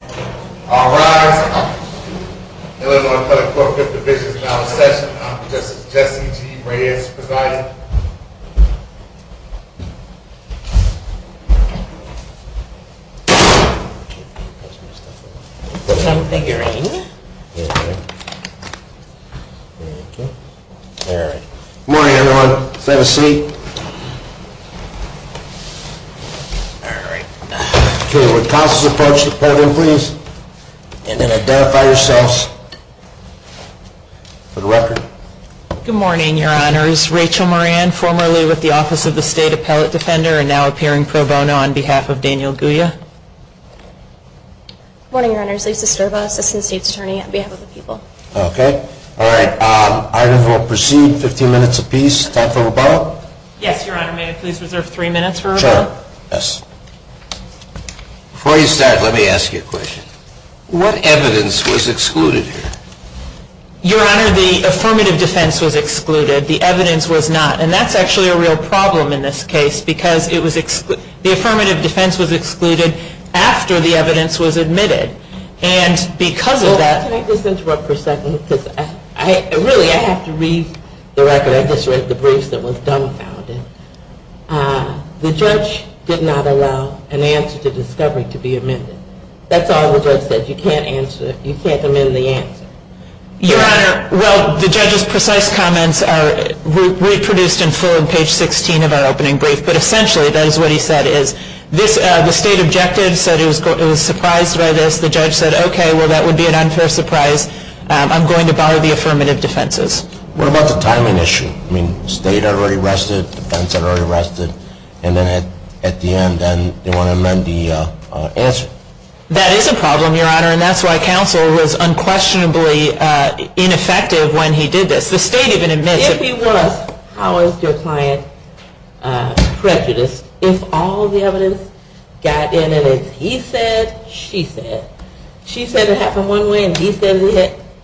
Good morning everyone. Let's have a seat. Good morning, your honors. Rachel Moran, formerly with the Office of the State Appellate Defender, and now appearing pro bono on behalf of Daniel Guja. Good morning, your honors. Lisa Sterba, Assistant State's Attorney on behalf of the people. Okay. All right. Item for proceed, 15 minutes apiece. Time for rebuttal. Yes, your honor. May I please reserve three minutes for rebuttal? Sure. Yes. Before you start, let me ask you a question. What evidence was excluded here? Your honor, the affirmative defense was excluded. The evidence was not. And that's actually a real problem in this case because the affirmative defense was excluded after the evidence was admitted. And because of that Can I just interrupt for a second? Really, I have to read the record. I just read the briefs that was dumbfounded. The judge did not allow an answer to discovery to be amended. That's all the judge said. You can't amend the answer. Your honor, well, the judge's precise comments are reproduced in full on page 16 of our opening brief. But essentially, that is what he said, is the state objective said it was surprised by this. The judge said, okay, well, that would be an unfair surprise. I'm going to borrow the affirmative defenses. What about the timing issue? I mean, state had already rested, defense had already rested. And then at the end, they want to amend the answer. That is a problem, your honor. And that's why counsel was unquestionably ineffective when he did this. If he was, how is your client prejudiced if all the evidence got in and it's he said, she said? She said it happened one way and he said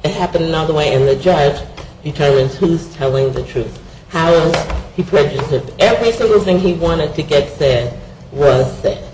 it happened another way and the judge determines who's telling the truth. How is he prejudiced if every single thing he wanted to get said was said?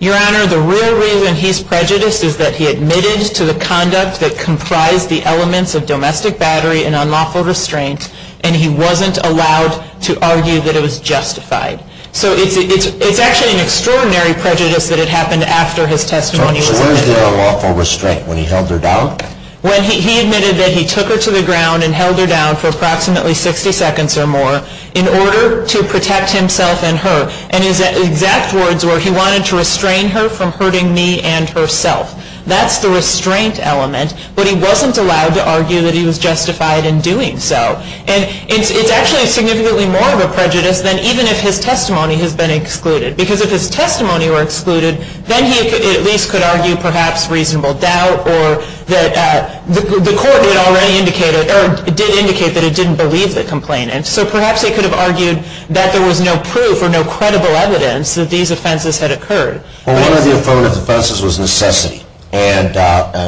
Your honor, the real reason he's prejudiced is that he admitted to the conduct that comprised the elements of domestic battery and unlawful restraint and he wasn't allowed to argue that it was justified. So it's actually an extraordinary prejudice that it happened after his testimony was made. So where's the unlawful restraint? When he held her down? When he admitted that he took her to the ground and held her down for approximately 60 seconds or more in order to protect himself and her. And his exact words were, he wanted to restrain her from hurting me and herself. That's the restraint element. But he wasn't allowed to argue that he was justified in doing so. And it's actually significantly more of a prejudice than even if his testimony has been excluded. Because if his testimony were excluded, then he at least could argue perhaps reasonable doubt or that the court did already indicate or did indicate that it didn't believe the complainant. So perhaps they could have argued that there was no proof or no credible evidence that these offenses had occurred. Well, one of the affirmative offenses was necessity. And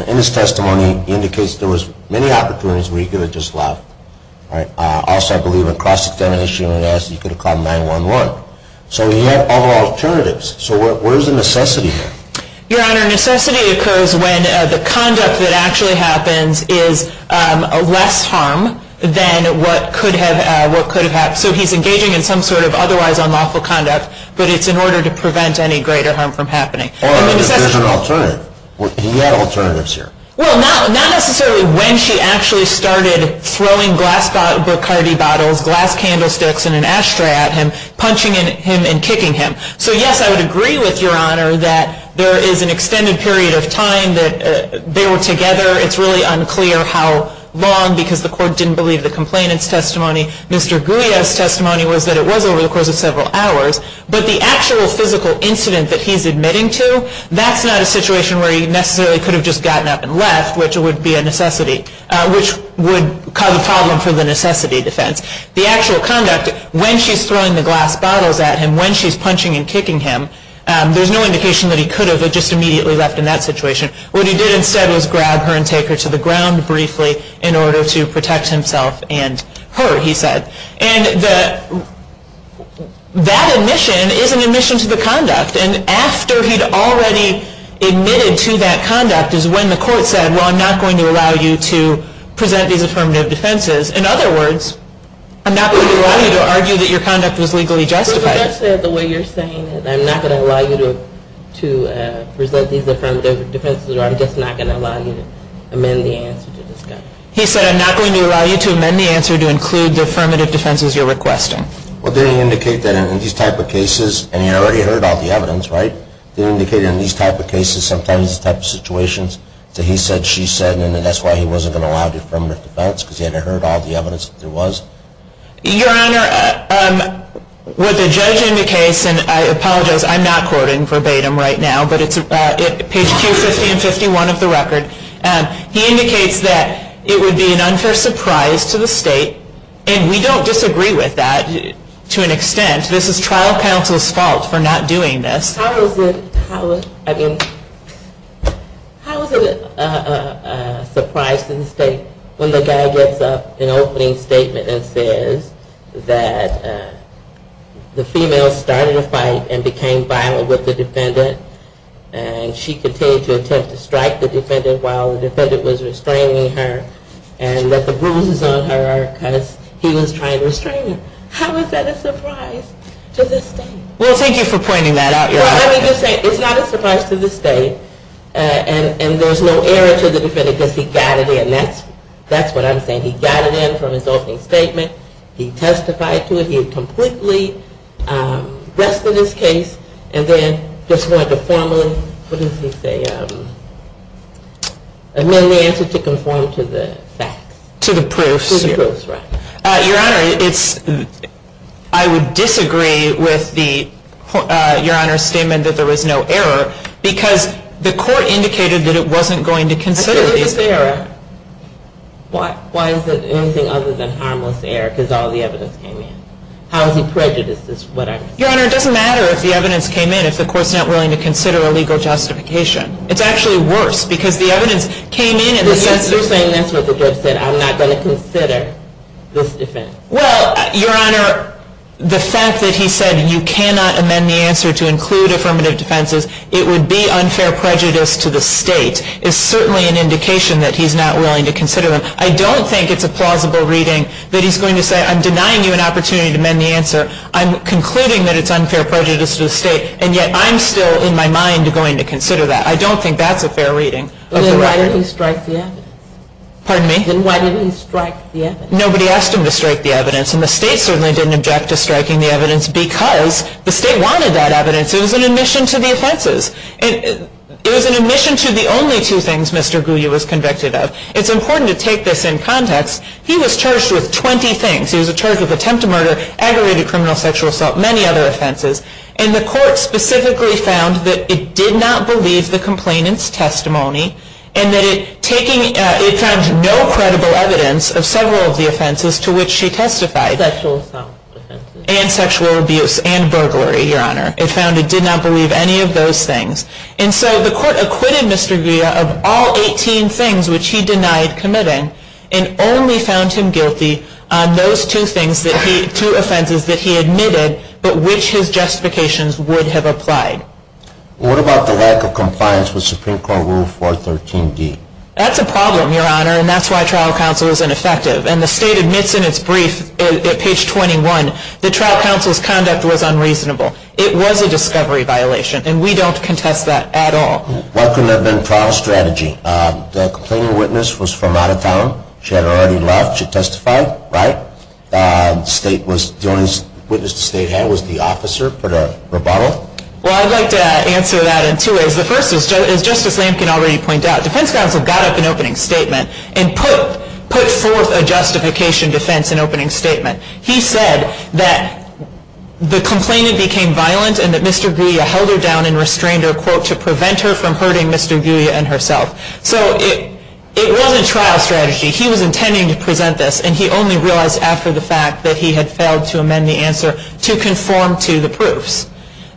in his testimony, he indicates there was many opportunities where he could have just left. Also, I believe in cross-examination, he could have called 911. So he had other alternatives. So where's the necessity here? Your Honor, necessity occurs when the conduct that actually happens is less harm than what could have happened. So he's engaging in some sort of otherwise unlawful conduct. But it's in order to prevent any greater harm from happening. There's an alternative. He had alternatives here. Well, not necessarily when she actually started throwing glass Bacardi bottles, glass candlesticks, and an ashtray at him, punching him and kicking him. So yes, I would agree with Your Honor that there is an extended period of time that they were together. Mr. Guia's testimony was that it was over the course of several hours. But the actual physical incident that he's admitting to, that's not a situation where he necessarily could have just gotten up and left, which would be a necessity, which would cause a problem for the necessity defense. The actual conduct, when she's throwing the glass bottles at him, when she's punching and kicking him, there's no indication that he could have just immediately left in that situation. What he did instead was grab her and take her to the ground briefly in order to protect himself and her, he said. And that admission is an admission to the conduct. And after he'd already admitted to that conduct is when the court said, well, I'm not going to allow you to present these affirmative defenses. In other words, I'm not going to allow you to argue that your conduct was legally justified. He just said the way you're saying it, I'm not going to allow you to present these affirmative defenses, or I'm just not going to allow you to amend the answer to this guy. He said, I'm not going to allow you to amend the answer to include the affirmative defenses you're requesting. Well, didn't he indicate that in these type of cases, and he already heard all the evidence, right? Didn't he indicate in these type of cases, sometimes these type of situations, that he said, she said, and that's why he wasn't going to allow the affirmative defense, because he hadn't heard all the evidence that there was? Your Honor, with the judge in the case, and I apologize, I'm not quoting verbatim right now, but it's page 250 and 51 of the record. He indicates that it would be an unfair surprise to the state, and we don't disagree with that to an extent. This is trial counsel's fault for not doing this. How is it a surprise to the state when the guy gets up, an opening statement that says that the female started a fight and became violent with the defendant, and she continued to attempt to strike the defendant while the defendant was restraining her, and that the bruises on her are because he was trying to restrain her? How is that a surprise to the state? Well, thank you for pointing that out, Your Honor. Well, let me just say, it's not a surprise to the state, and there's no error to the defendant because he got it in. That's what I'm saying. He got it in from his opening statement. He testified to it. He completely rested his case, and then just went to formally, what does he say, amend the answer to conform to the facts. To the proofs. To the proofs, right. Your Honor, I would disagree with Your Honor's statement that there was no error because the court indicated that it wasn't going to consider these. I said there's an error. Why is there anything other than harmless error because all the evidence came in? How is he prejudiced is what I'm saying. Your Honor, it doesn't matter if the evidence came in if the court's not willing to consider a legal justification. It's actually worse because the evidence came in in the sense that. You're saying that's what the judge said. I'm not going to consider this defense. Well, Your Honor, the fact that he said you cannot amend the answer to include affirmative defenses, it would be unfair prejudice to the state. It's certainly an indication that he's not willing to consider them. I don't think it's a plausible reading that he's going to say I'm denying you an opportunity to amend the answer. I'm concluding that it's unfair prejudice to the state, and yet I'm still, in my mind, going to consider that. I don't think that's a fair reading. Then why didn't he strike the evidence? Pardon me? Then why didn't he strike the evidence? Nobody asked him to strike the evidence, and the state certainly didn't object to striking the evidence because the state wanted that evidence. It was an admission to the offenses. It was an admission to the only two things Mr. Guyot was convicted of. It's important to take this in context. He was charged with 20 things. He was charged with attempt to murder, aggravated criminal sexual assault, many other offenses, and the court specifically found that it did not believe the complainant's testimony and that it found no credible evidence of several of the offenses to which she testified. Sexual assault offenses. And sexual abuse and burglary, Your Honor. It found it did not believe any of those things. And so the court acquitted Mr. Guyot of all 18 things which he denied committing and only found him guilty on those two things, two offenses that he admitted but which his justifications would have applied. What about the lack of compliance with Supreme Court Rule 413D? That's a problem, Your Honor, and that's why trial counsel is ineffective. And the state admits in its brief at page 21 that trial counsel's conduct was unreasonable. It was a discovery violation, and we don't contest that at all. What could have been trial strategy? The complaining witness was from out of town. She had already left. She testified, right? The only witness the state had was the officer. Put a rebuttal. Well, I'd like to answer that in two ways. The first is, as Justice Lamkin already pointed out, defense counsel got up in opening statement and put forth a justification defense in opening statement. He said that the complainant became violent and that Mr. Guyot held her down and restrained her, quote, to prevent her from hurting Mr. Guyot and herself. So it wasn't trial strategy. He was intending to present this, and he only realized after the fact that he had failed to amend the answer to conform to the proofs.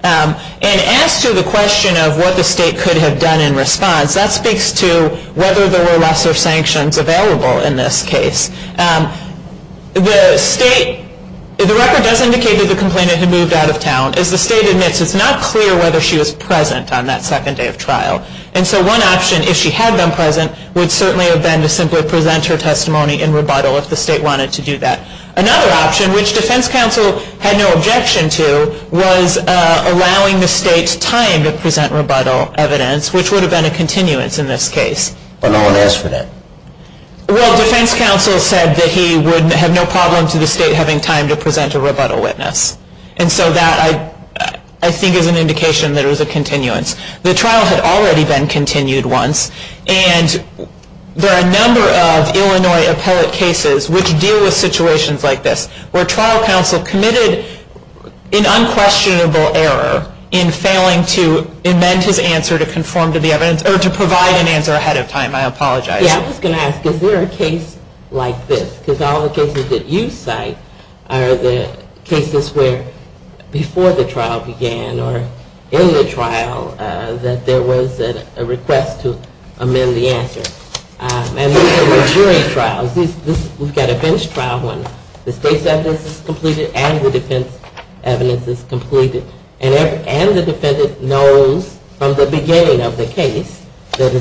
And as to the question of what the state could have done in response, that speaks to whether there were lesser sanctions available in this case. The state, the record does indicate that the complainant had moved out of town. As the state admits, it's not clear whether she was present on that second day of trial. And so one option, if she had been present, would certainly have been to simply present her testimony in rebuttal if the state wanted to do that. Another option, which defense counsel had no objection to, was allowing the state time to present rebuttal evidence, which would have been a continuance in this case. But no one asked for that. Well, defense counsel said that he would have no problem to the state having time to present a rebuttal witness. And so that, I think, is an indication that it was a continuance. The trial had already been continued once, and there are a number of Illinois appellate cases which deal with situations like this, where trial counsel committed an unquestionable error in failing to amend his answer to conform to the evidence, or to provide an answer ahead of time. I apologize. Yeah, I was going to ask, is there a case like this? Because all the cases that you cite are the cases where before the trial began, or in the trial, that there was a request to amend the answer. And these are majority trials. We've got a bench trial one. The state's evidence is completed, and the defense's evidence is completed. And the defendant knows from the beginning of the case that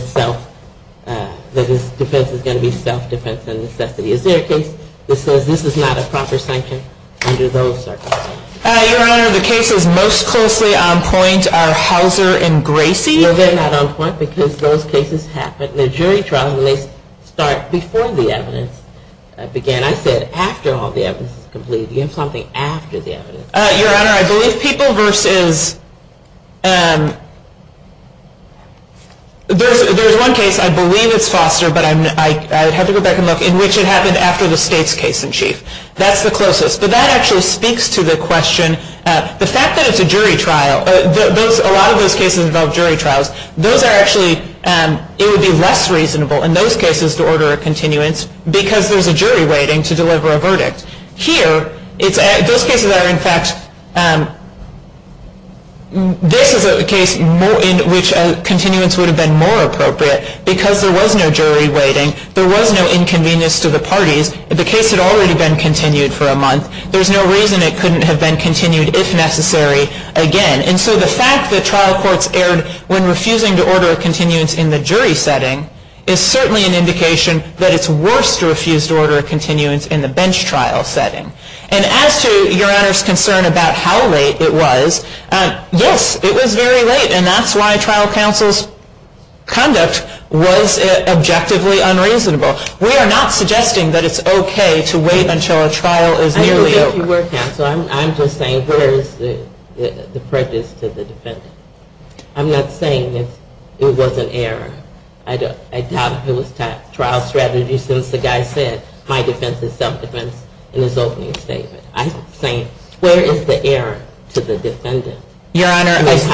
his defense is going to be self-defense and necessity. Is there a case that says this is not a proper sanction under those circumstances? Your Honor, the cases most closely on point are Hauser and Gracie. No, they're not on point, because those cases happen in a jury trial, and they start before the evidence began. I said after all the evidence is completed. You have something after the evidence. Your Honor, I believe people versus, there's one case, I believe it's Foster, but I'd have to go back and look, in which it happened after the state's case in chief. That's the closest. But that actually speaks to the question. The fact that it's a jury trial, a lot of those cases involve jury trials. Those are actually, it would be less reasonable in those cases to order a continuance, because there's a jury waiting to deliver a verdict. Here, those cases are in fact, this is a case in which a continuance would have been more appropriate, because there was no jury waiting. There was no inconvenience to the parties. If the case had already been continued for a month, there's no reason it couldn't have been continued, if necessary, again. And so the fact that trial courts erred when refusing to order a continuance in the jury setting is certainly an indication that it's worse to refuse to order a continuance in the bench trial setting. And as to Your Honor's concern about how late it was, yes, it was very late, and that's why trial counsel's conduct was objectively unreasonable. We are not suggesting that it's okay to wait until a trial is nearly over. Well, if you were counsel, I'm just saying, where is the prejudice to the defendant? I'm not saying that it was an error. I doubt if it was trial strategy, since the guy said, my defense is self-defense, in his opening statement. I'm saying, where is the error to the defendant? Your Honor, I'm just…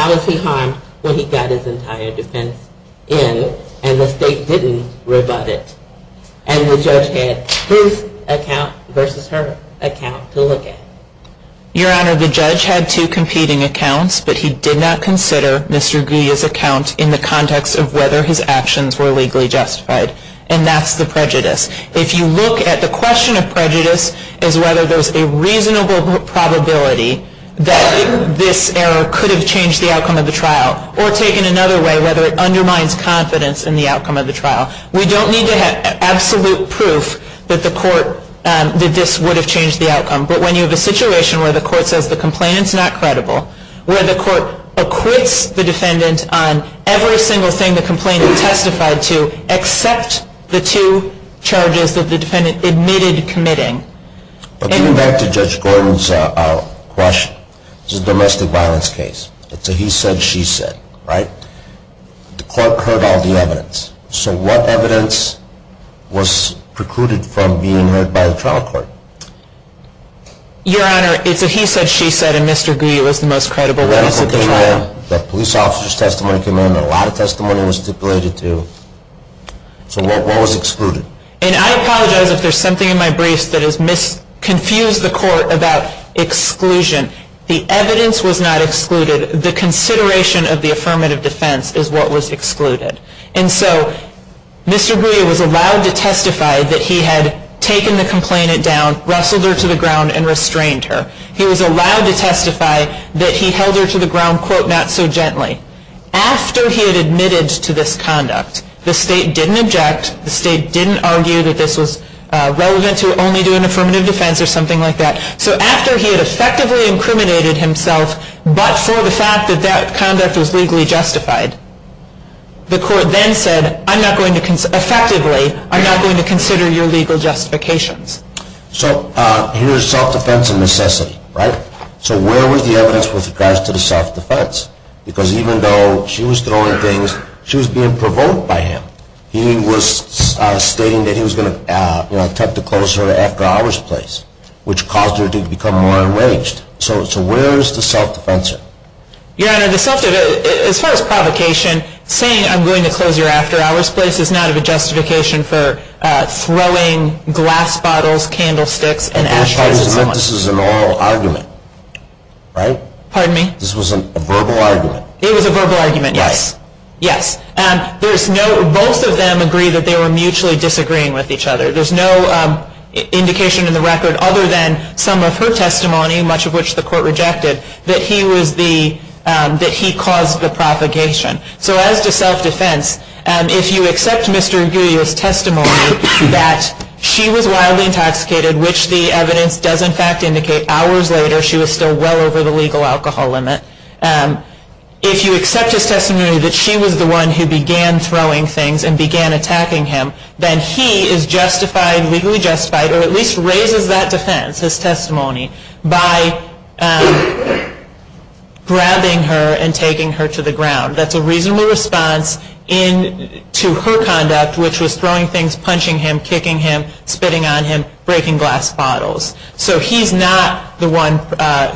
Your Honor, the judge had two competing accounts, but he did not consider Mr. Guia's account in the context of whether his actions were legally justified. And that's the prejudice. If you look at the question of prejudice as whether there's a reasonable probability that this error could have changed the outcome of the trial, or taken another way, whether it undermines confidence in the outcome of the trial, we don't need to have absolute proof that this would have changed the outcome. But when you have a situation where the court says the complainant's not credible, where the court acquits the defendant on every single thing the complainant testified to, except the two charges that the defendant admitted committing… But getting back to Judge Gordon's question, this is a domestic violence case. It's a he said, she said, right? The court heard all the evidence. So what evidence was precluded from being heard by the trial court? Your Honor, it's a he said, she said, and Mr. Guia was the most credible witness at the trial. The police officer's testimony came in. A lot of testimony was stipulated, too. So what was excluded? And I apologize if there's something in my briefs that has confused the court about exclusion. The evidence was not excluded. The consideration of the affirmative defense is what was excluded. And so Mr. Guia was allowed to testify that he had taken the complainant down, rustled her to the ground, and restrained her. He was allowed to testify that he held her to the ground, quote, not so gently. After he had admitted to this conduct, the state didn't object. The state didn't argue that this was relevant to only do an affirmative defense or something like that. So after he had effectively incriminated himself but for the fact that that conduct was legally justified, the court then said, effectively, I'm not going to consider your legal justifications. So here's self-defense and necessity, right? So where was the evidence with regards to the self-defense? Because even though she was throwing things, she was being provoked by him. He was stating that he was going to attempt to close her after hours place, which caused her to become more enraged. So where is the self-defense? Your Honor, the self-defense, as far as provocation, saying I'm going to close your after hours place is not of a justification for throwing glass bottles, candlesticks, and ashtrays at someone. This is an oral argument, right? Pardon me? This was a verbal argument. It was a verbal argument, yes. Right. Yes. And there's no, both of them agree that they were mutually disagreeing with each other. There's no indication in the record other than some of her testimony, much of which the court rejected, that he was the, that he caused the propagation. So as to self-defense, if you accept Mr. Aguirre's testimony that she was wildly intoxicated, which the evidence does in fact indicate hours later she was still well over the legal alcohol limit, if you accept his testimony that she was the one who began throwing things and began attacking him, then he is justified, legally justified, or at least raises that defense, his testimony, by grabbing her and taking her to the ground. That's a reasonable response in, to her conduct, which was throwing things, punching him, kicking him, spitting on him, breaking glass bottles. So he's not the one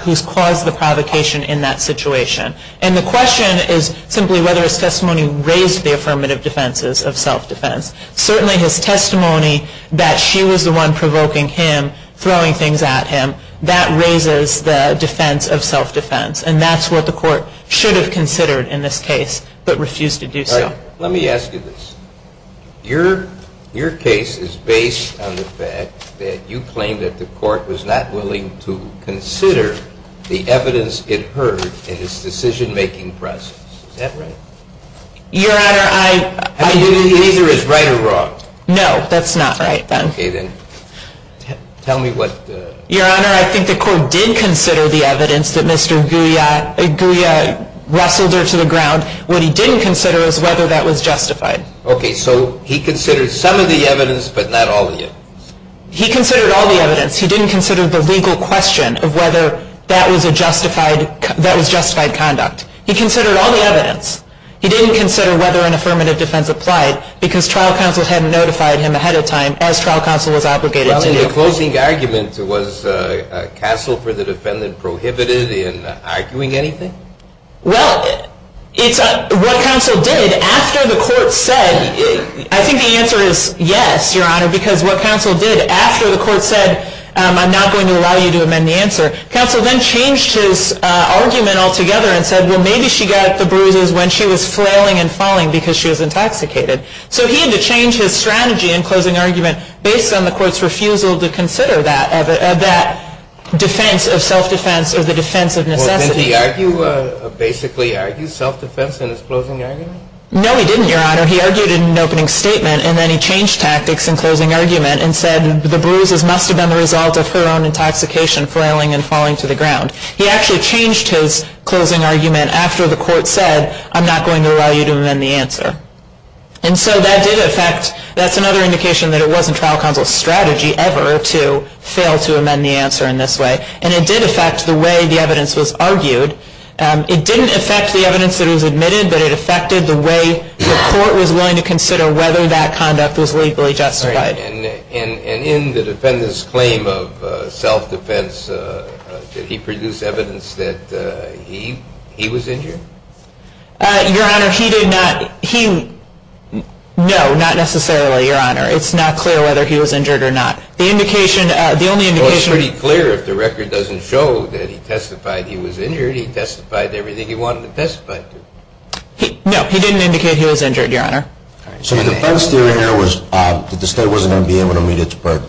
who's caused the provocation in that situation. And the question is simply whether his testimony raised the affirmative defenses of self-defense. Certainly his testimony that she was the one provoking him, throwing things at him, that raises the defense of self-defense. And that's what the court should have considered in this case, but refused to do so. All right. Let me ask you this. Your case is based on the fact that you claim that the court was not willing to consider the evidence it heard in its decision-making process. Is that right? Your Honor, I- I mean, it either is right or wrong. No, that's not right, Ben. Okay, then. Tell me what- Your Honor, I think the court did consider the evidence that Mr. Gouya wrestled her to the ground. What he didn't consider is whether that was justified. Okay, so he considered some of the evidence, but not all of it. He considered all the evidence. He didn't consider the legal question of whether that was justified conduct. He considered all the evidence. He didn't consider whether an affirmative defense applied, because trial counsel had notified him ahead of time, as trial counsel was obligated to do. Well, in the closing argument, was counsel for the defendant prohibited in arguing anything? Well, what counsel did after the court said- I think the answer is yes, Your Honor, because what counsel did after the court said, I'm not going to allow you to amend the answer, counsel then changed his argument altogether and said, well, maybe she got the bruises when she was flailing and falling because she was intoxicated. So he had to change his strategy in closing argument based on the court's refusal to consider that defense of self-defense or the defense of necessity. Well, didn't he argue, basically argue self-defense in his closing argument? No, he didn't, Your Honor. He argued in an opening statement, and then he changed tactics in closing argument and said the bruises must have been the result of her own intoxication, flailing and falling to the ground. He actually changed his closing argument after the court said, I'm not going to allow you to amend the answer. And so that did affect-that's another indication that it wasn't trial counsel's strategy ever to fail to amend the answer in this way. And it did affect the way the evidence was argued. It didn't affect the evidence that was admitted, but it affected the way the court was willing to consider whether that conduct was legally justified. And in the defendant's claim of self-defense, did he produce evidence that he was injured? Your Honor, he did not-no, not necessarily, Your Honor. It's not clear whether he was injured or not. The indication-the only indication- Well, it's pretty clear if the record doesn't show that he testified he was injured, he testified everything he wanted to testify to. No, he didn't indicate he was injured, Your Honor. So the defense theory here was that the state wasn't going to be able to meet its burden.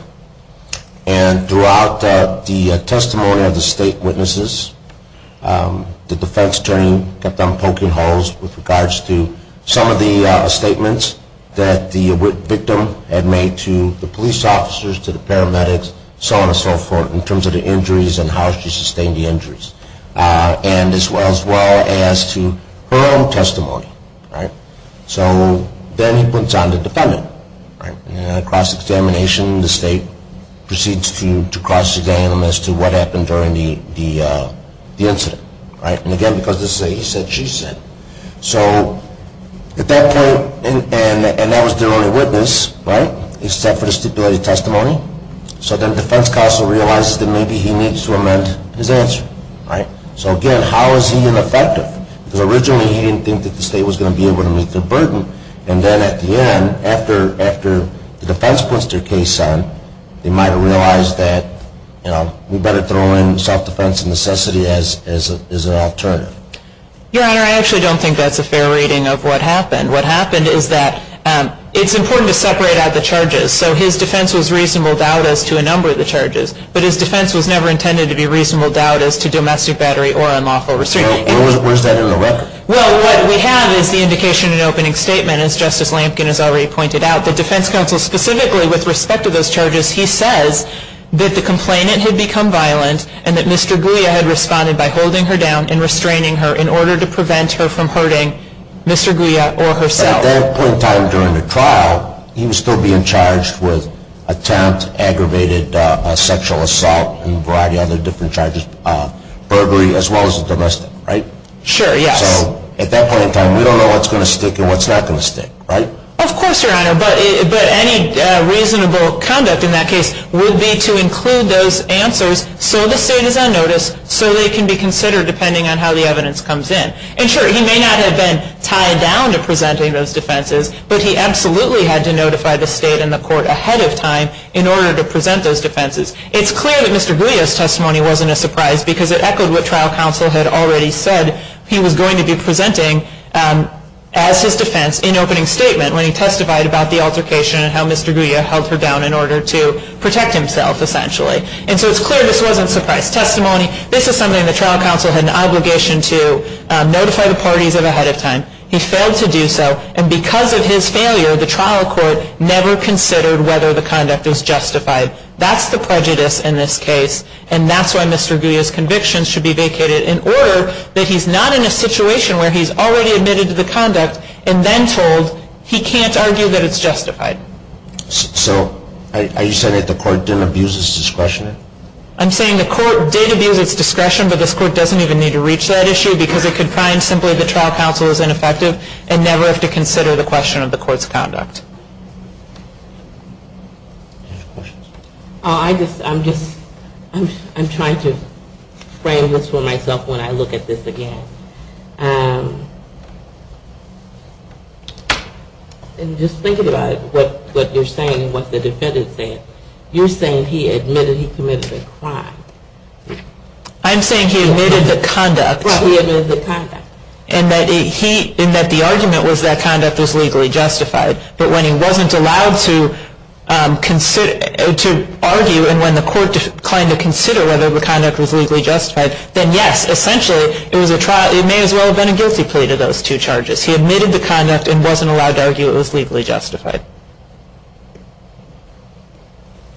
And throughout the testimony of the state witnesses, the defense attorney kept on poking holes with regards to some of the statements that the victim had made to the police officers, to the paramedics, so on and so forth, in terms of the injuries and how she sustained the injuries, as well as to her own testimony. So then he puts on the defendant. And in a cross-examination, the state proceeds to cross-examine him as to what happened during the incident. And again, because this is a he-said-she-said. So at that point, and that was their only witness, except for the stipulated testimony, so then the defense counsel realizes that maybe he needs to amend his answer. So again, how is he ineffective? Because originally he didn't think that the state was going to be able to meet their burden. And then at the end, after the defense puts their case on, they might have realized that we better throw in self-defense and necessity as an alternative. Your Honor, I actually don't think that's a fair reading of what happened. What happened is that it's important to separate out the charges. So his defense was reasonable doubt as to a number of the charges. But his defense was never intended to be reasonable doubt as to domestic battery or unlawful restraint. Where's that in the record? Well, what we have is the indication in the opening statement, as Justice Lampkin has already pointed out, that defense counsel specifically, with respect to those charges, he says that the complainant had become violent and that Mr. Guia had responded by holding her down and restraining her in order to prevent her from hurting Mr. Guia or herself. So at that point in time during the trial, he was still being charged with attempt, aggravated sexual assault and a variety of other different charges, burglary as well as domestic, right? Sure, yes. So at that point in time, we don't know what's going to stick and what's not going to stick, right? Of course, Your Honor, but any reasonable conduct in that case would be to include those answers so the state is on notice, so they can be considered depending on how the evidence comes in. And sure, he may not have been tied down to presenting those defenses, but he absolutely had to notify the state and the court ahead of time in order to present those defenses. It's clear that Mr. Guia's testimony wasn't a surprise because it echoed what trial counsel had already said he was going to be presenting as his defense in opening statement when he testified about the altercation and how Mr. Guia held her down in order to protect himself, essentially. And so it's clear this wasn't a surprise testimony. This is something that trial counsel had an obligation to notify the parties of ahead of time. He failed to do so, and because of his failure, the trial court never considered whether the conduct was justified. That's the prejudice in this case, and that's why Mr. Guia's convictions should be vacated in order that he's not in a situation where he's already admitted to the conduct and then told he can't argue that it's justified. So are you saying that the court didn't abuse his discretion? I'm saying the court did abuse its discretion, but this court doesn't even need to reach that issue because it could find simply the trial counsel is ineffective and never have to consider the question of the court's conduct. I'm just trying to frame this for myself when I look at this again. And just thinking about what you're saying and what the defendant said, you're saying he admitted he committed a crime. I'm saying he admitted the conduct. Right, he admitted the conduct. And that the argument was that conduct was legally justified, but when he wasn't allowed to argue and when the court declined to consider whether the conduct was legally justified, then yes, essentially it may as well have been a guilty plea to those two charges. He admitted the conduct and wasn't allowed to argue it was legally justified.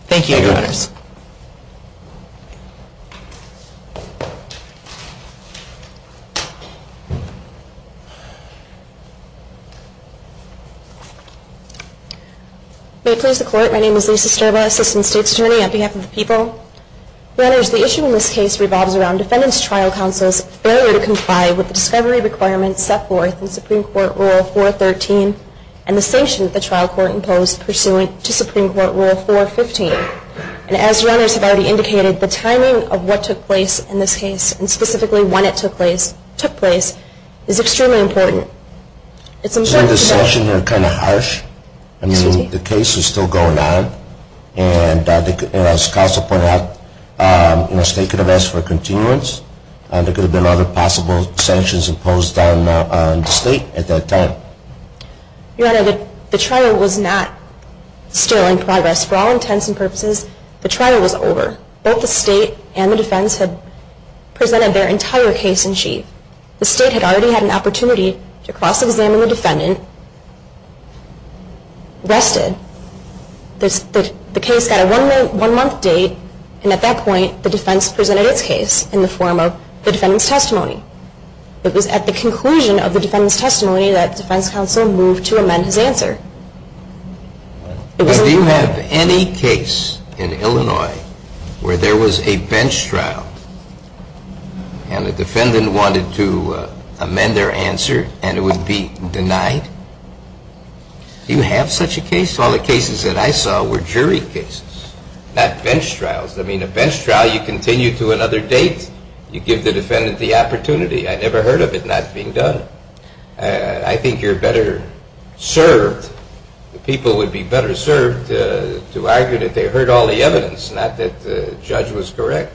Thank you, Your Honors. May it please the Court, my name is Lisa Sterba, Assistant State's Attorney on behalf of the people. Your Honors, the issue in this case revolves around defendant's trial counsel's failure to comply with the discovery requirements set forth in Supreme Court Rule 413 and the sanction that the trial court imposed pursuant to Supreme Court Rule 415. And as Your Honors have already indicated, the timing of what took place in this case, and specifically when it took place, is extremely important. Isn't the sanction here kind of harsh? I mean, the case is still going on, and as counsel pointed out, the state could have asked for a continuance, and there could have been other possible sanctions imposed on the state at that time. Your Honor, the trial was not still in progress. For all intents and purposes, the trial was over. Both the state and the defense had presented their entire case in chief. The state had already had an opportunity to cross-examine the defendant, rested, the case got a one-month date, and at that point the defense presented its case in the form of the defendant's testimony. It was at the conclusion of the defendant's testimony that defense counsel moved to amend his answer. Do you have any case in Illinois where there was a bench trial, and the defendant wanted to amend their answer, and it would be denied? Do you have such a case? All the cases that I saw were jury cases, not bench trials. I mean, a bench trial, you continue to another date. You give the defendant the opportunity. I never heard of it not being done. I think you're better served, the people would be better served, to argue that they heard all the evidence, not that the judge was correct.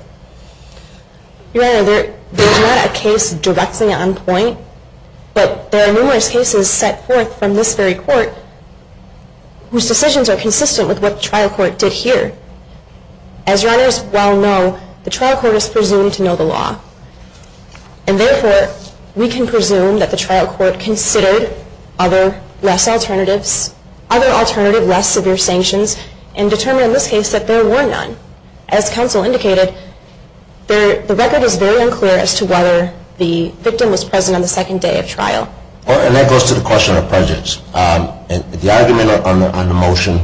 Your Honor, there is not a case directly on point, but there are numerous cases set forth from this very court, whose decisions are consistent with what the trial court did here. As Your Honors well know, the trial court is presumed to know the law, and therefore we can presume that the trial court considered other less alternatives, other alternative less severe sanctions, and determined in this case that there were none. As counsel indicated, the record is very unclear as to whether the victim was present on the second day of trial. And that goes to the question of prejudice. The argument on the motion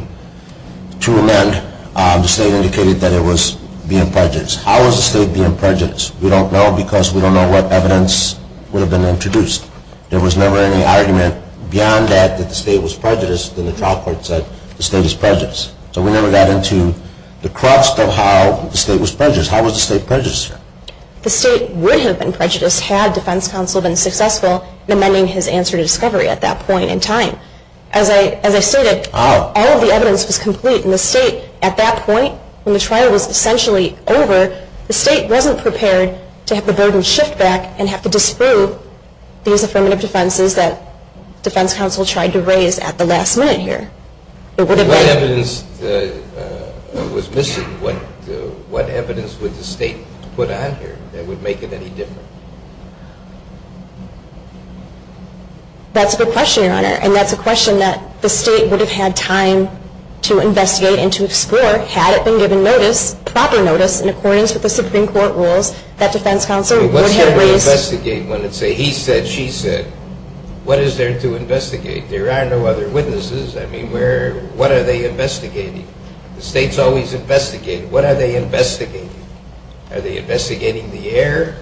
to amend, the state indicated that it was being prejudiced. How was the state being prejudiced? We don't know because we don't know what evidence would have been introduced. There was never any argument beyond that that the state was prejudiced, and the trial court said the state is prejudiced. So we never got into the crux of how the state was prejudiced. How was the state prejudiced? The state would have been prejudiced had defense counsel been successful in amending his answer to discovery at that point in time. As I stated, all of the evidence was complete, and the state at that point, when the trial was essentially over, the state wasn't prepared to have the burden shift back and have to disprove these affirmative defenses that defense counsel tried to raise at the last minute here. What evidence was missing? What evidence would the state put on here that would make it any different? That's a good question, Your Honor. And that's a question that the state would have had time to investigate and to explore had it been given notice, proper notice, in accordance with the Supreme Court rules that defense counsel would have raised. What's there to investigate when it's a he said, she said? What is there to investigate? There are no other witnesses. I mean, what are they investigating? The state's always investigating. What are they investigating? Are they investigating the error?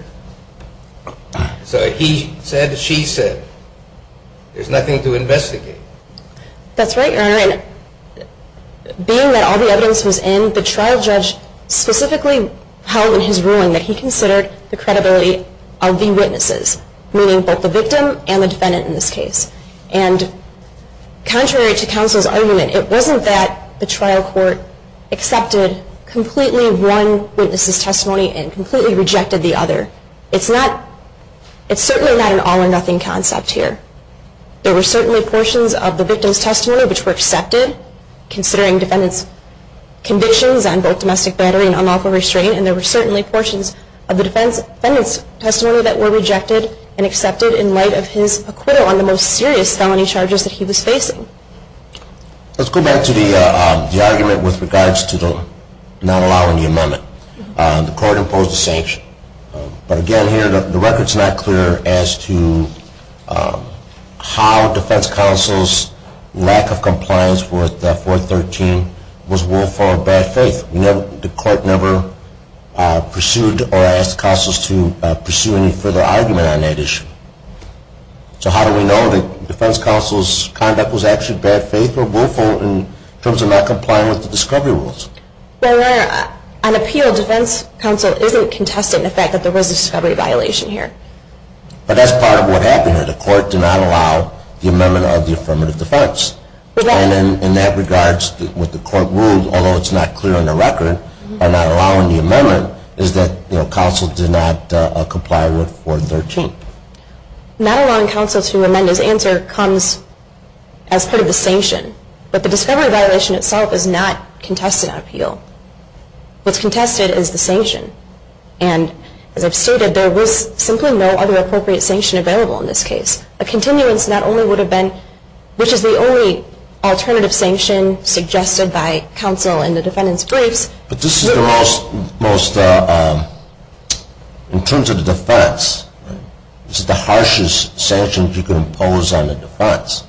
So he said, she said. There's nothing to investigate. That's right, Your Honor. And being that all the evidence was in, the trial judge specifically held in his ruling that he considered the credibility of the witnesses, meaning both the victim and the defendant in this case. And contrary to counsel's argument, it wasn't that the trial court accepted completely one witness's testimony and completely rejected the other. It's not, it's certainly not an all or nothing concept here. There were certainly portions of the victim's testimony which were accepted, considering defendant's convictions on both domestic battery and unlawful restraint. And there were certainly portions of the defendant's testimony that were rejected and accepted in light of his acquittal on the most serious felony charges that he was facing. Let's go back to the argument with regards to not allowing the amendment. The court imposed a sanction. But again here, the record's not clear as to how defense counsel's lack of compliance with 413 was willful or bad faith. The court never pursued or asked counsels to pursue any further argument on that issue. So how do we know that defense counsel's conduct was actually bad faith or willful in terms of not complying with the discovery rules? Well, Your Honor, on appeal, defense counsel isn't contested in the fact that there was a discovery violation here. But that's part of what happened here. The court did not allow the amendment of the affirmative defense. And in that regards, what the court ruled, although it's not clear on the record, by not allowing the amendment, is that counsel did not comply with 413. Not allowing counsel to amend his answer comes as part of the sanction. But the discovery violation itself is not contested on appeal. What's contested is the sanction. And as I've stated, there was simply no other appropriate sanction available in this case. A continuance not only would have been, which is the only alternative sanction suggested by counsel in the defendant's briefs. But this is the most, in terms of the defense, this is the harshest sanction you can impose on the defense.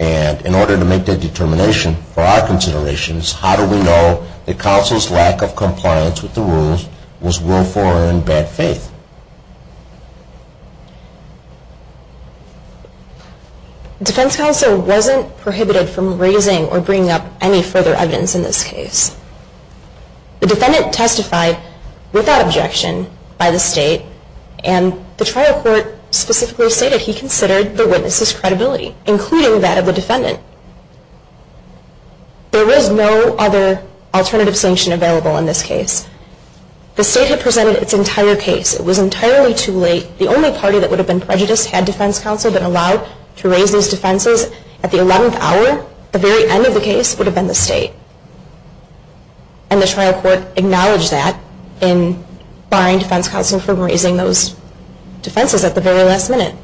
And in order to make that determination, for our considerations, how do we know that counsel's lack of compliance with the rules was willful or in bad faith? The defense counsel wasn't prohibited from raising or bringing up any further evidence in this case. The defendant testified without objection by the state. And the trial court specifically stated he considered the witness's credibility, including that of the defendant. There was no other alternative sanction available in this case. The state had presented its entire case. It was entirely too late. The only party that would have been prejudiced had defense counsel been allowed to raise these defenses at the 11th hour. The very end of the case would have been the state. And the trial court acknowledged that in barring defense counsel from raising those defenses at the very last minute.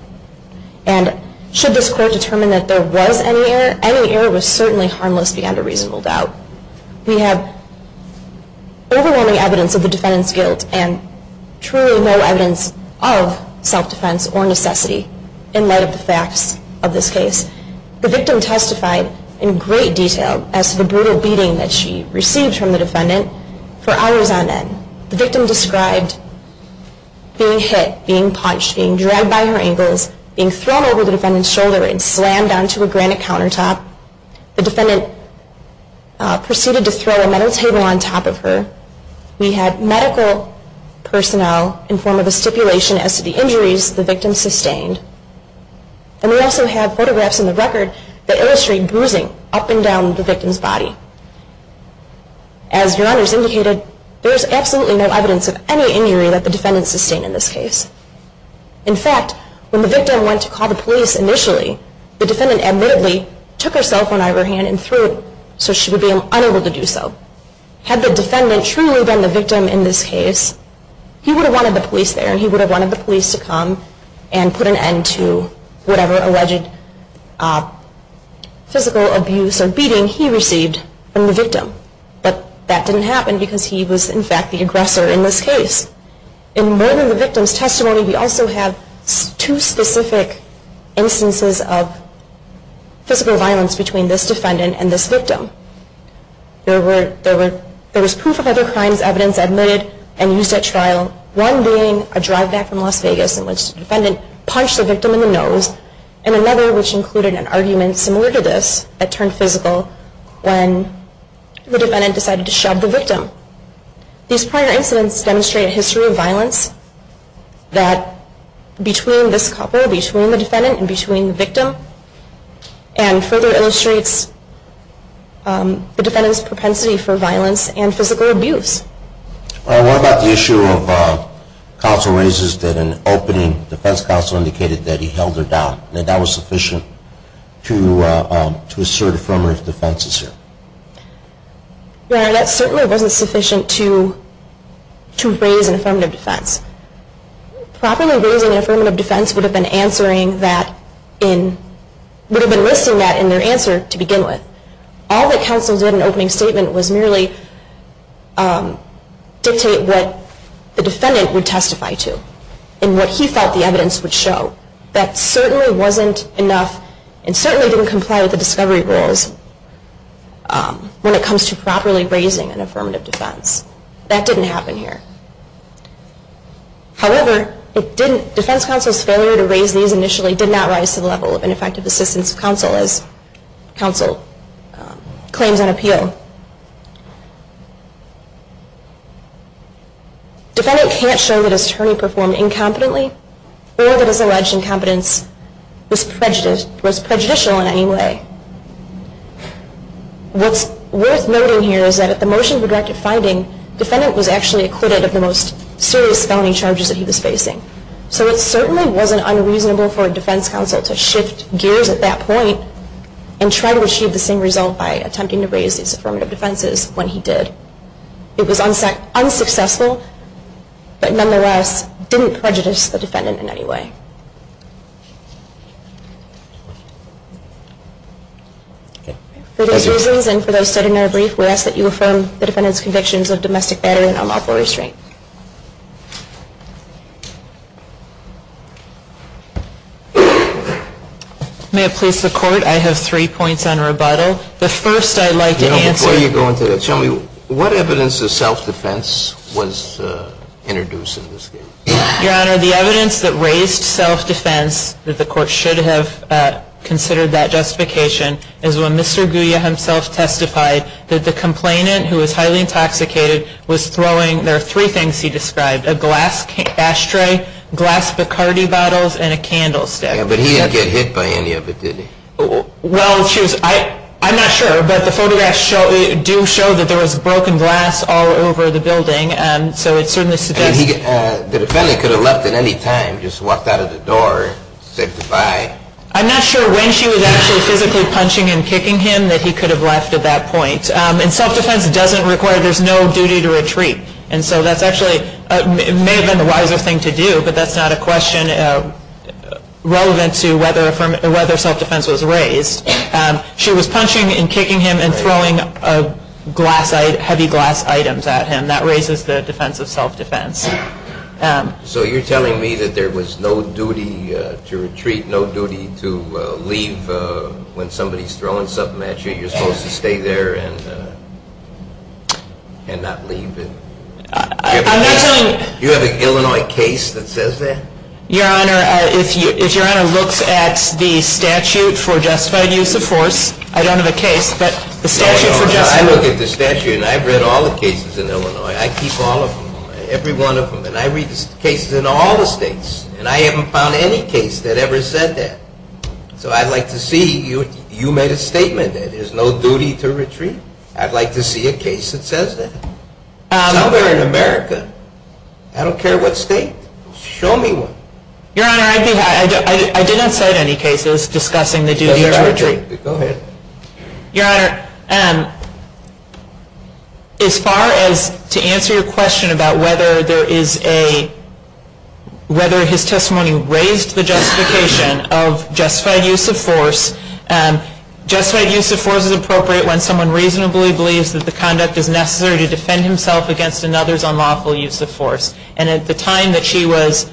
And should this court determine that there was any error, any error was certainly harmless beyond a reasonable doubt. We have overwhelming evidence of the defendant's guilt and truly no evidence of self-defense or necessity in light of the facts of this case. The victim testified in great detail as to the brutal beating that she received from the defendant for hours on end. The victim described being hit, being punched, being dragged by her ankles, being thrown over the defendant's shoulder, and slammed onto a granite countertop. The defendant proceeded to throw a metal table on top of her. We had medical personnel inform of the stipulation as to the injuries the victim sustained. And we also have photographs in the record that illustrate bruising up and down the victim's body. As your honors indicated, there is absolutely no evidence of any injury that the defendant sustained in this case. In fact, when the victim went to call the police initially, the defendant admittedly took her cell phone out of her hand and threw it, so she would be unable to do so. Had the defendant truly been the victim in this case, he would have wanted the police there, but that didn't happen because he was, in fact, the aggressor in this case. In more than the victim's testimony, we also have two specific instances of physical violence between this defendant and this victim. There was proof of other crimes evidence admitted and used at trial, one being a drive-back from Las Vegas in which the defendant punched the victim in the nose, and another which included an argument similar to this that turned physical when the defendant decided to shove the victim. These prior incidents demonstrate a history of violence between this couple, between the defendant and between the victim, and further illustrates the defendant's propensity for violence and physical abuse. The defense counsel indicated that he held her down, and that was sufficient to assert affirmative defense. Your Honor, that certainly wasn't sufficient to raise an affirmative defense. Properly raising an affirmative defense would have been listing that in their answer to begin with. All that counsel did in opening statement was merely dictate what the defendant would testify to, and what he felt the evidence would show. That certainly wasn't enough, and certainly didn't comply with the discovery rules when it comes to properly raising an affirmative defense. That didn't happen here. However, defense counsel's failure to raise these initially did not rise to the level of ineffective assistance of counsel, as counsel claims on appeal. Defendant can't show that his attorney performed incompetently, or that his alleged incompetence was prejudicial in any way. What's worth noting here is that at the motions we directed finding, defendant was actually acquitted of the most serious felony charges that he was facing. So it certainly wasn't unreasonable for a defense counsel to shift gears at that point and try to achieve the same result by attempting to raise these affirmative defenses when he did. It was unsuccessful, but nonetheless didn't prejudice the defendant in any way. For those reasons, and for those studied in our brief, we ask that you affirm the defendant's convictions of domestic battery and unlawful restraint. May it please the Court, I have three points on rebuttal. Before you go into that, tell me, what evidence of self-defense was introduced in this case? Your Honor, the evidence that raised self-defense, that the Court should have considered that justification, is when Mr. Guia himself testified that the complainant, who was highly intoxicated, was throwing, there are three things he described, a glass ashtray, glass Bacardi bottles, and a candlestick. Yeah, but he didn't get hit by any of it, did he? Well, I'm not sure, but the photographs do show that there was broken glass all over the building. The defendant could have left at any time, just walked out of the door, said goodbye. I'm not sure when she was actually physically punching and kicking him that he could have left at that point. And self-defense doesn't require, there's no duty to retreat. And so that's actually, it may have been the wiser thing to do, but that's not a question relevant to whether self-defense was raised. She was punching and kicking him and throwing glass, heavy glass items at him. That raises the defense of self-defense. So you're telling me that there was no duty to retreat, no duty to leave when somebody's throwing something at you. You're supposed to stay there and not leave. Do you have an Illinois case that says that? Your Honor, if Your Honor looks at the statute for justified use of force, I don't have a case, but the statute for justified use of force. I look at the statute and I've read all the cases in Illinois. I keep all of them, every one of them, and I read the cases in all the states. And I haven't found any case that ever said that. So I'd like to see, you made a statement that there's no duty to retreat. I'd like to see a case that says that. Somewhere in America, I don't care what state, show me one. Your Honor, I didn't cite any cases discussing the duty to retreat. Your Honor, as far as to answer your question about whether there is a, whether his testimony raised the justification of justified use of force, justified use of force is appropriate when someone reasonably believes that the conduct is necessary to defend himself against another's unlawful use of force. And at the time that she was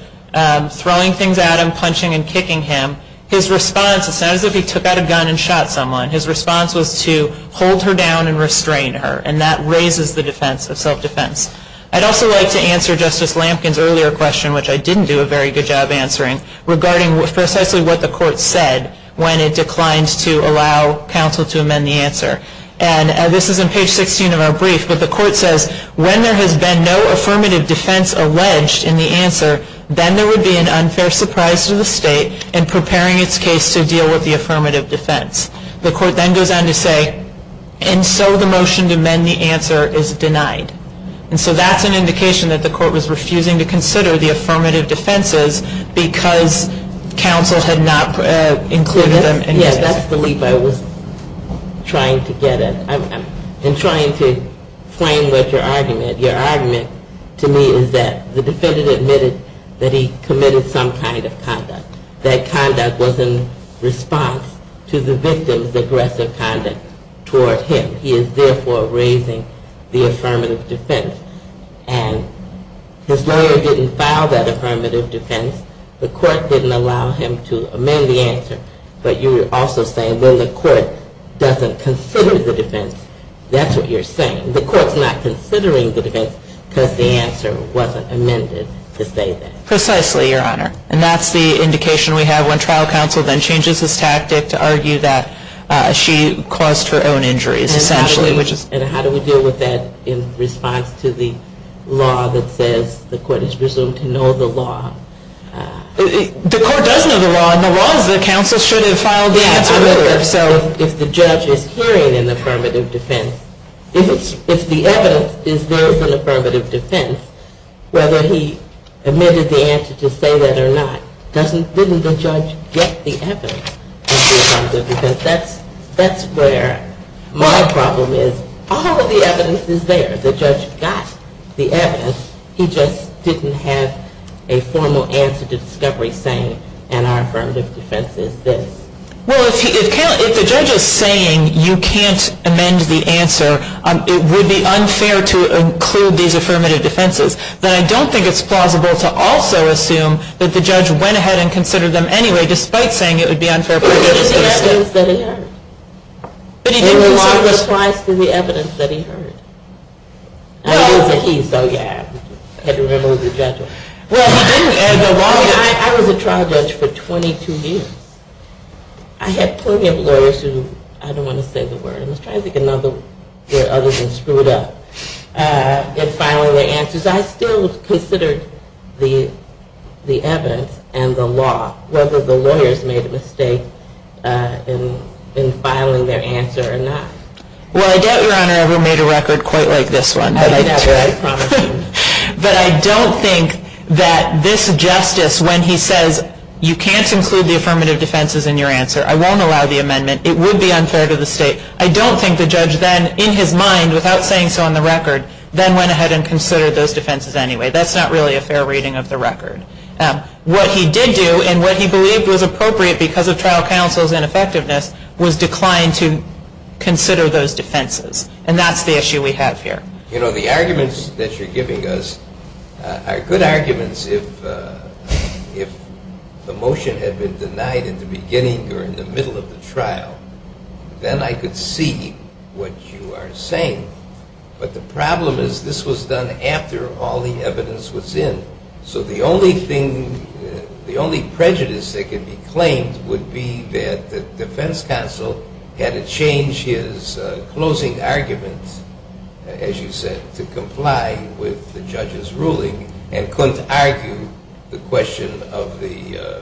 throwing things at him, punching and kicking him, his response, it's not as if he took out a gun and shot someone. His response was to hold her down and restrain her. And that raises the defense of self-defense. I'd also like to answer Justice Lampkin's earlier question, which I didn't do a very good job answering, regarding precisely what the Court said when it declined to allow counsel to amend the answer. And this is on page 16 of our brief, but the Court says, when there has been no affirmative defense alleged in the answer, then there would be an unfair surprise to the State in preparing its case to deal with the affirmative defense. The Court then goes on to say, and so the motion to amend the answer is denied. And so that's an indication that the Court was refusing to consider the affirmative defenses because counsel had not included them. Yes, that's the leap I was trying to get at. In trying to frame what your argument, your argument to me is that the defendant admitted that he committed some kind of conduct. That conduct was in response to the victim's aggressive conduct toward him. He is therefore raising the affirmative defense. And his lawyer didn't file that affirmative defense. The Court didn't allow him to amend the answer. But you're also saying when the Court doesn't consider the defense, that's what you're saying. The Court's not considering the defense because the answer wasn't amended to say that. Precisely, Your Honor. And that's the indication we have when trial counsel then changes his tactic to argue that she caused her own injuries, essentially. And how do we deal with that in response to the law that says the Court is presumed to know the law? The Court does know the law, and the law is that counsel should have filed the answer earlier. If the judge is hearing an affirmative defense, if the evidence is there in the affirmative defense, whether he admitted the answer to say that or not, didn't the judge get the evidence? Because that's where my problem is. All of the evidence is there. The judge got the evidence. He just didn't have a formal answer to discovery saying, and our affirmative defense is this. Well, if the judge is saying you can't amend the answer, it would be unfair to include these affirmative defenses, then I don't think it's plausible to also assume that the judge went ahead and considered them anyway, despite saying it would be unfair. There were a lot of replies to the evidence that he heard. I was a trial judge for 22 years. I had plenty of lawyers who, I don't want to say the word, I was trying to think of another word other than screwed up, but I still considered the evidence and the law, whether the lawyers made a mistake in filing their answer or not. Well, I doubt Your Honor ever made a record quite like this one. But I don't think that this justice, when he says you can't include the affirmative defenses in your answer, I won't allow the amendment, it would be unfair to the state, I don't think the judge then, in his mind, without saying so on the record, then went ahead and considered those defenses anyway. That's not really a fair reading of the record. What he did do, and what he believed was appropriate because of trial counsel's ineffectiveness, was decline to consider those defenses. And that's the issue we have here. You know, the arguments that you're giving us are good arguments if the motion had been denied in the beginning or in the middle of the trial, then I could see what you are saying. But the problem is this was done after all the evidence was in. So the only prejudice that could be claimed would be that the defense counsel had to change his closing argument, as you said, to comply with the judge's ruling, and couldn't argue the question of the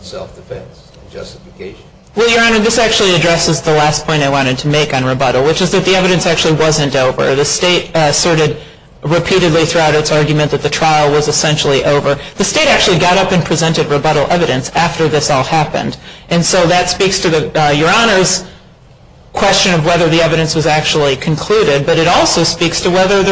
self-defense justification. Well, Your Honor, this actually addresses the last point I wanted to make on rebuttal, which is that the evidence actually wasn't over. The state asserted repeatedly throughout its argument that the trial was essentially over. The state actually got up and presented rebuttal evidence after this all happened. And so that speaks to Your Honor's question of whether the evidence was actually concluded, but it also speaks to whether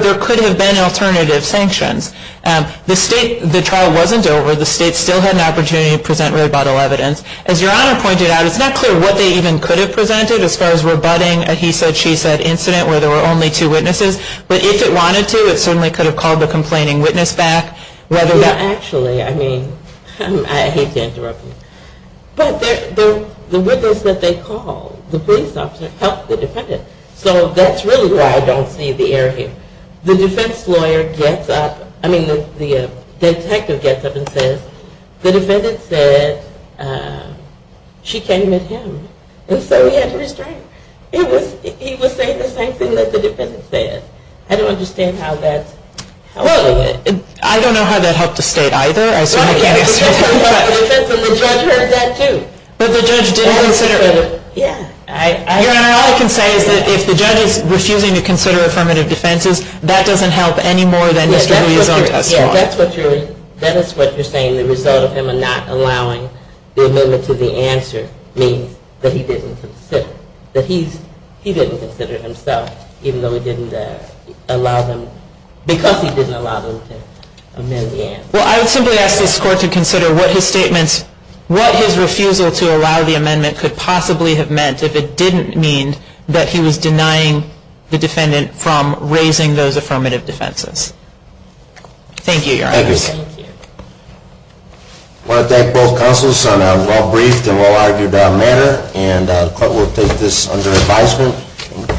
there could have been alternative sanctions. The state, the trial wasn't over. The state still had an opportunity to present rebuttal evidence. As Your Honor pointed out, it's not clear what they even could have presented as far as rebutting a he-said-she-said incident where there were only two witnesses. But if it wanted to, it certainly could have called the complaining witness back. Well, actually, I mean, I hate to interrupt you. But the witness that they called, the police officer, helped the defendant. So that's really why I don't see the error here. The defense lawyer gets up, I mean, the detective gets up and says, the defendant said she came at him. And so he had to restrain her. He was saying the same thing that the defendant said. I don't understand how that helped the state either. But the judge didn't consider it. Your Honor, all I can say is that if the judge is refusing to consider affirmative defenses, that doesn't help any more than Mr. Louia's own testimony. That's what you're saying. The result of him not allowing the amendment to the answer means that he didn't consider it. That he didn't consider it himself, even though he didn't allow them, because he didn't allow them to amend the answer. Well, I would simply ask this Court to consider what his statements, what his refusal to allow the amendment could possibly have meant if it didn't mean that he was denying the defendant from raising those affirmative defenses. Thank you, Your Honor. Thank you. I want to thank both counsels on a well-briefed and well-argued matter. And the Court will take this under advisement. Court is adjourned.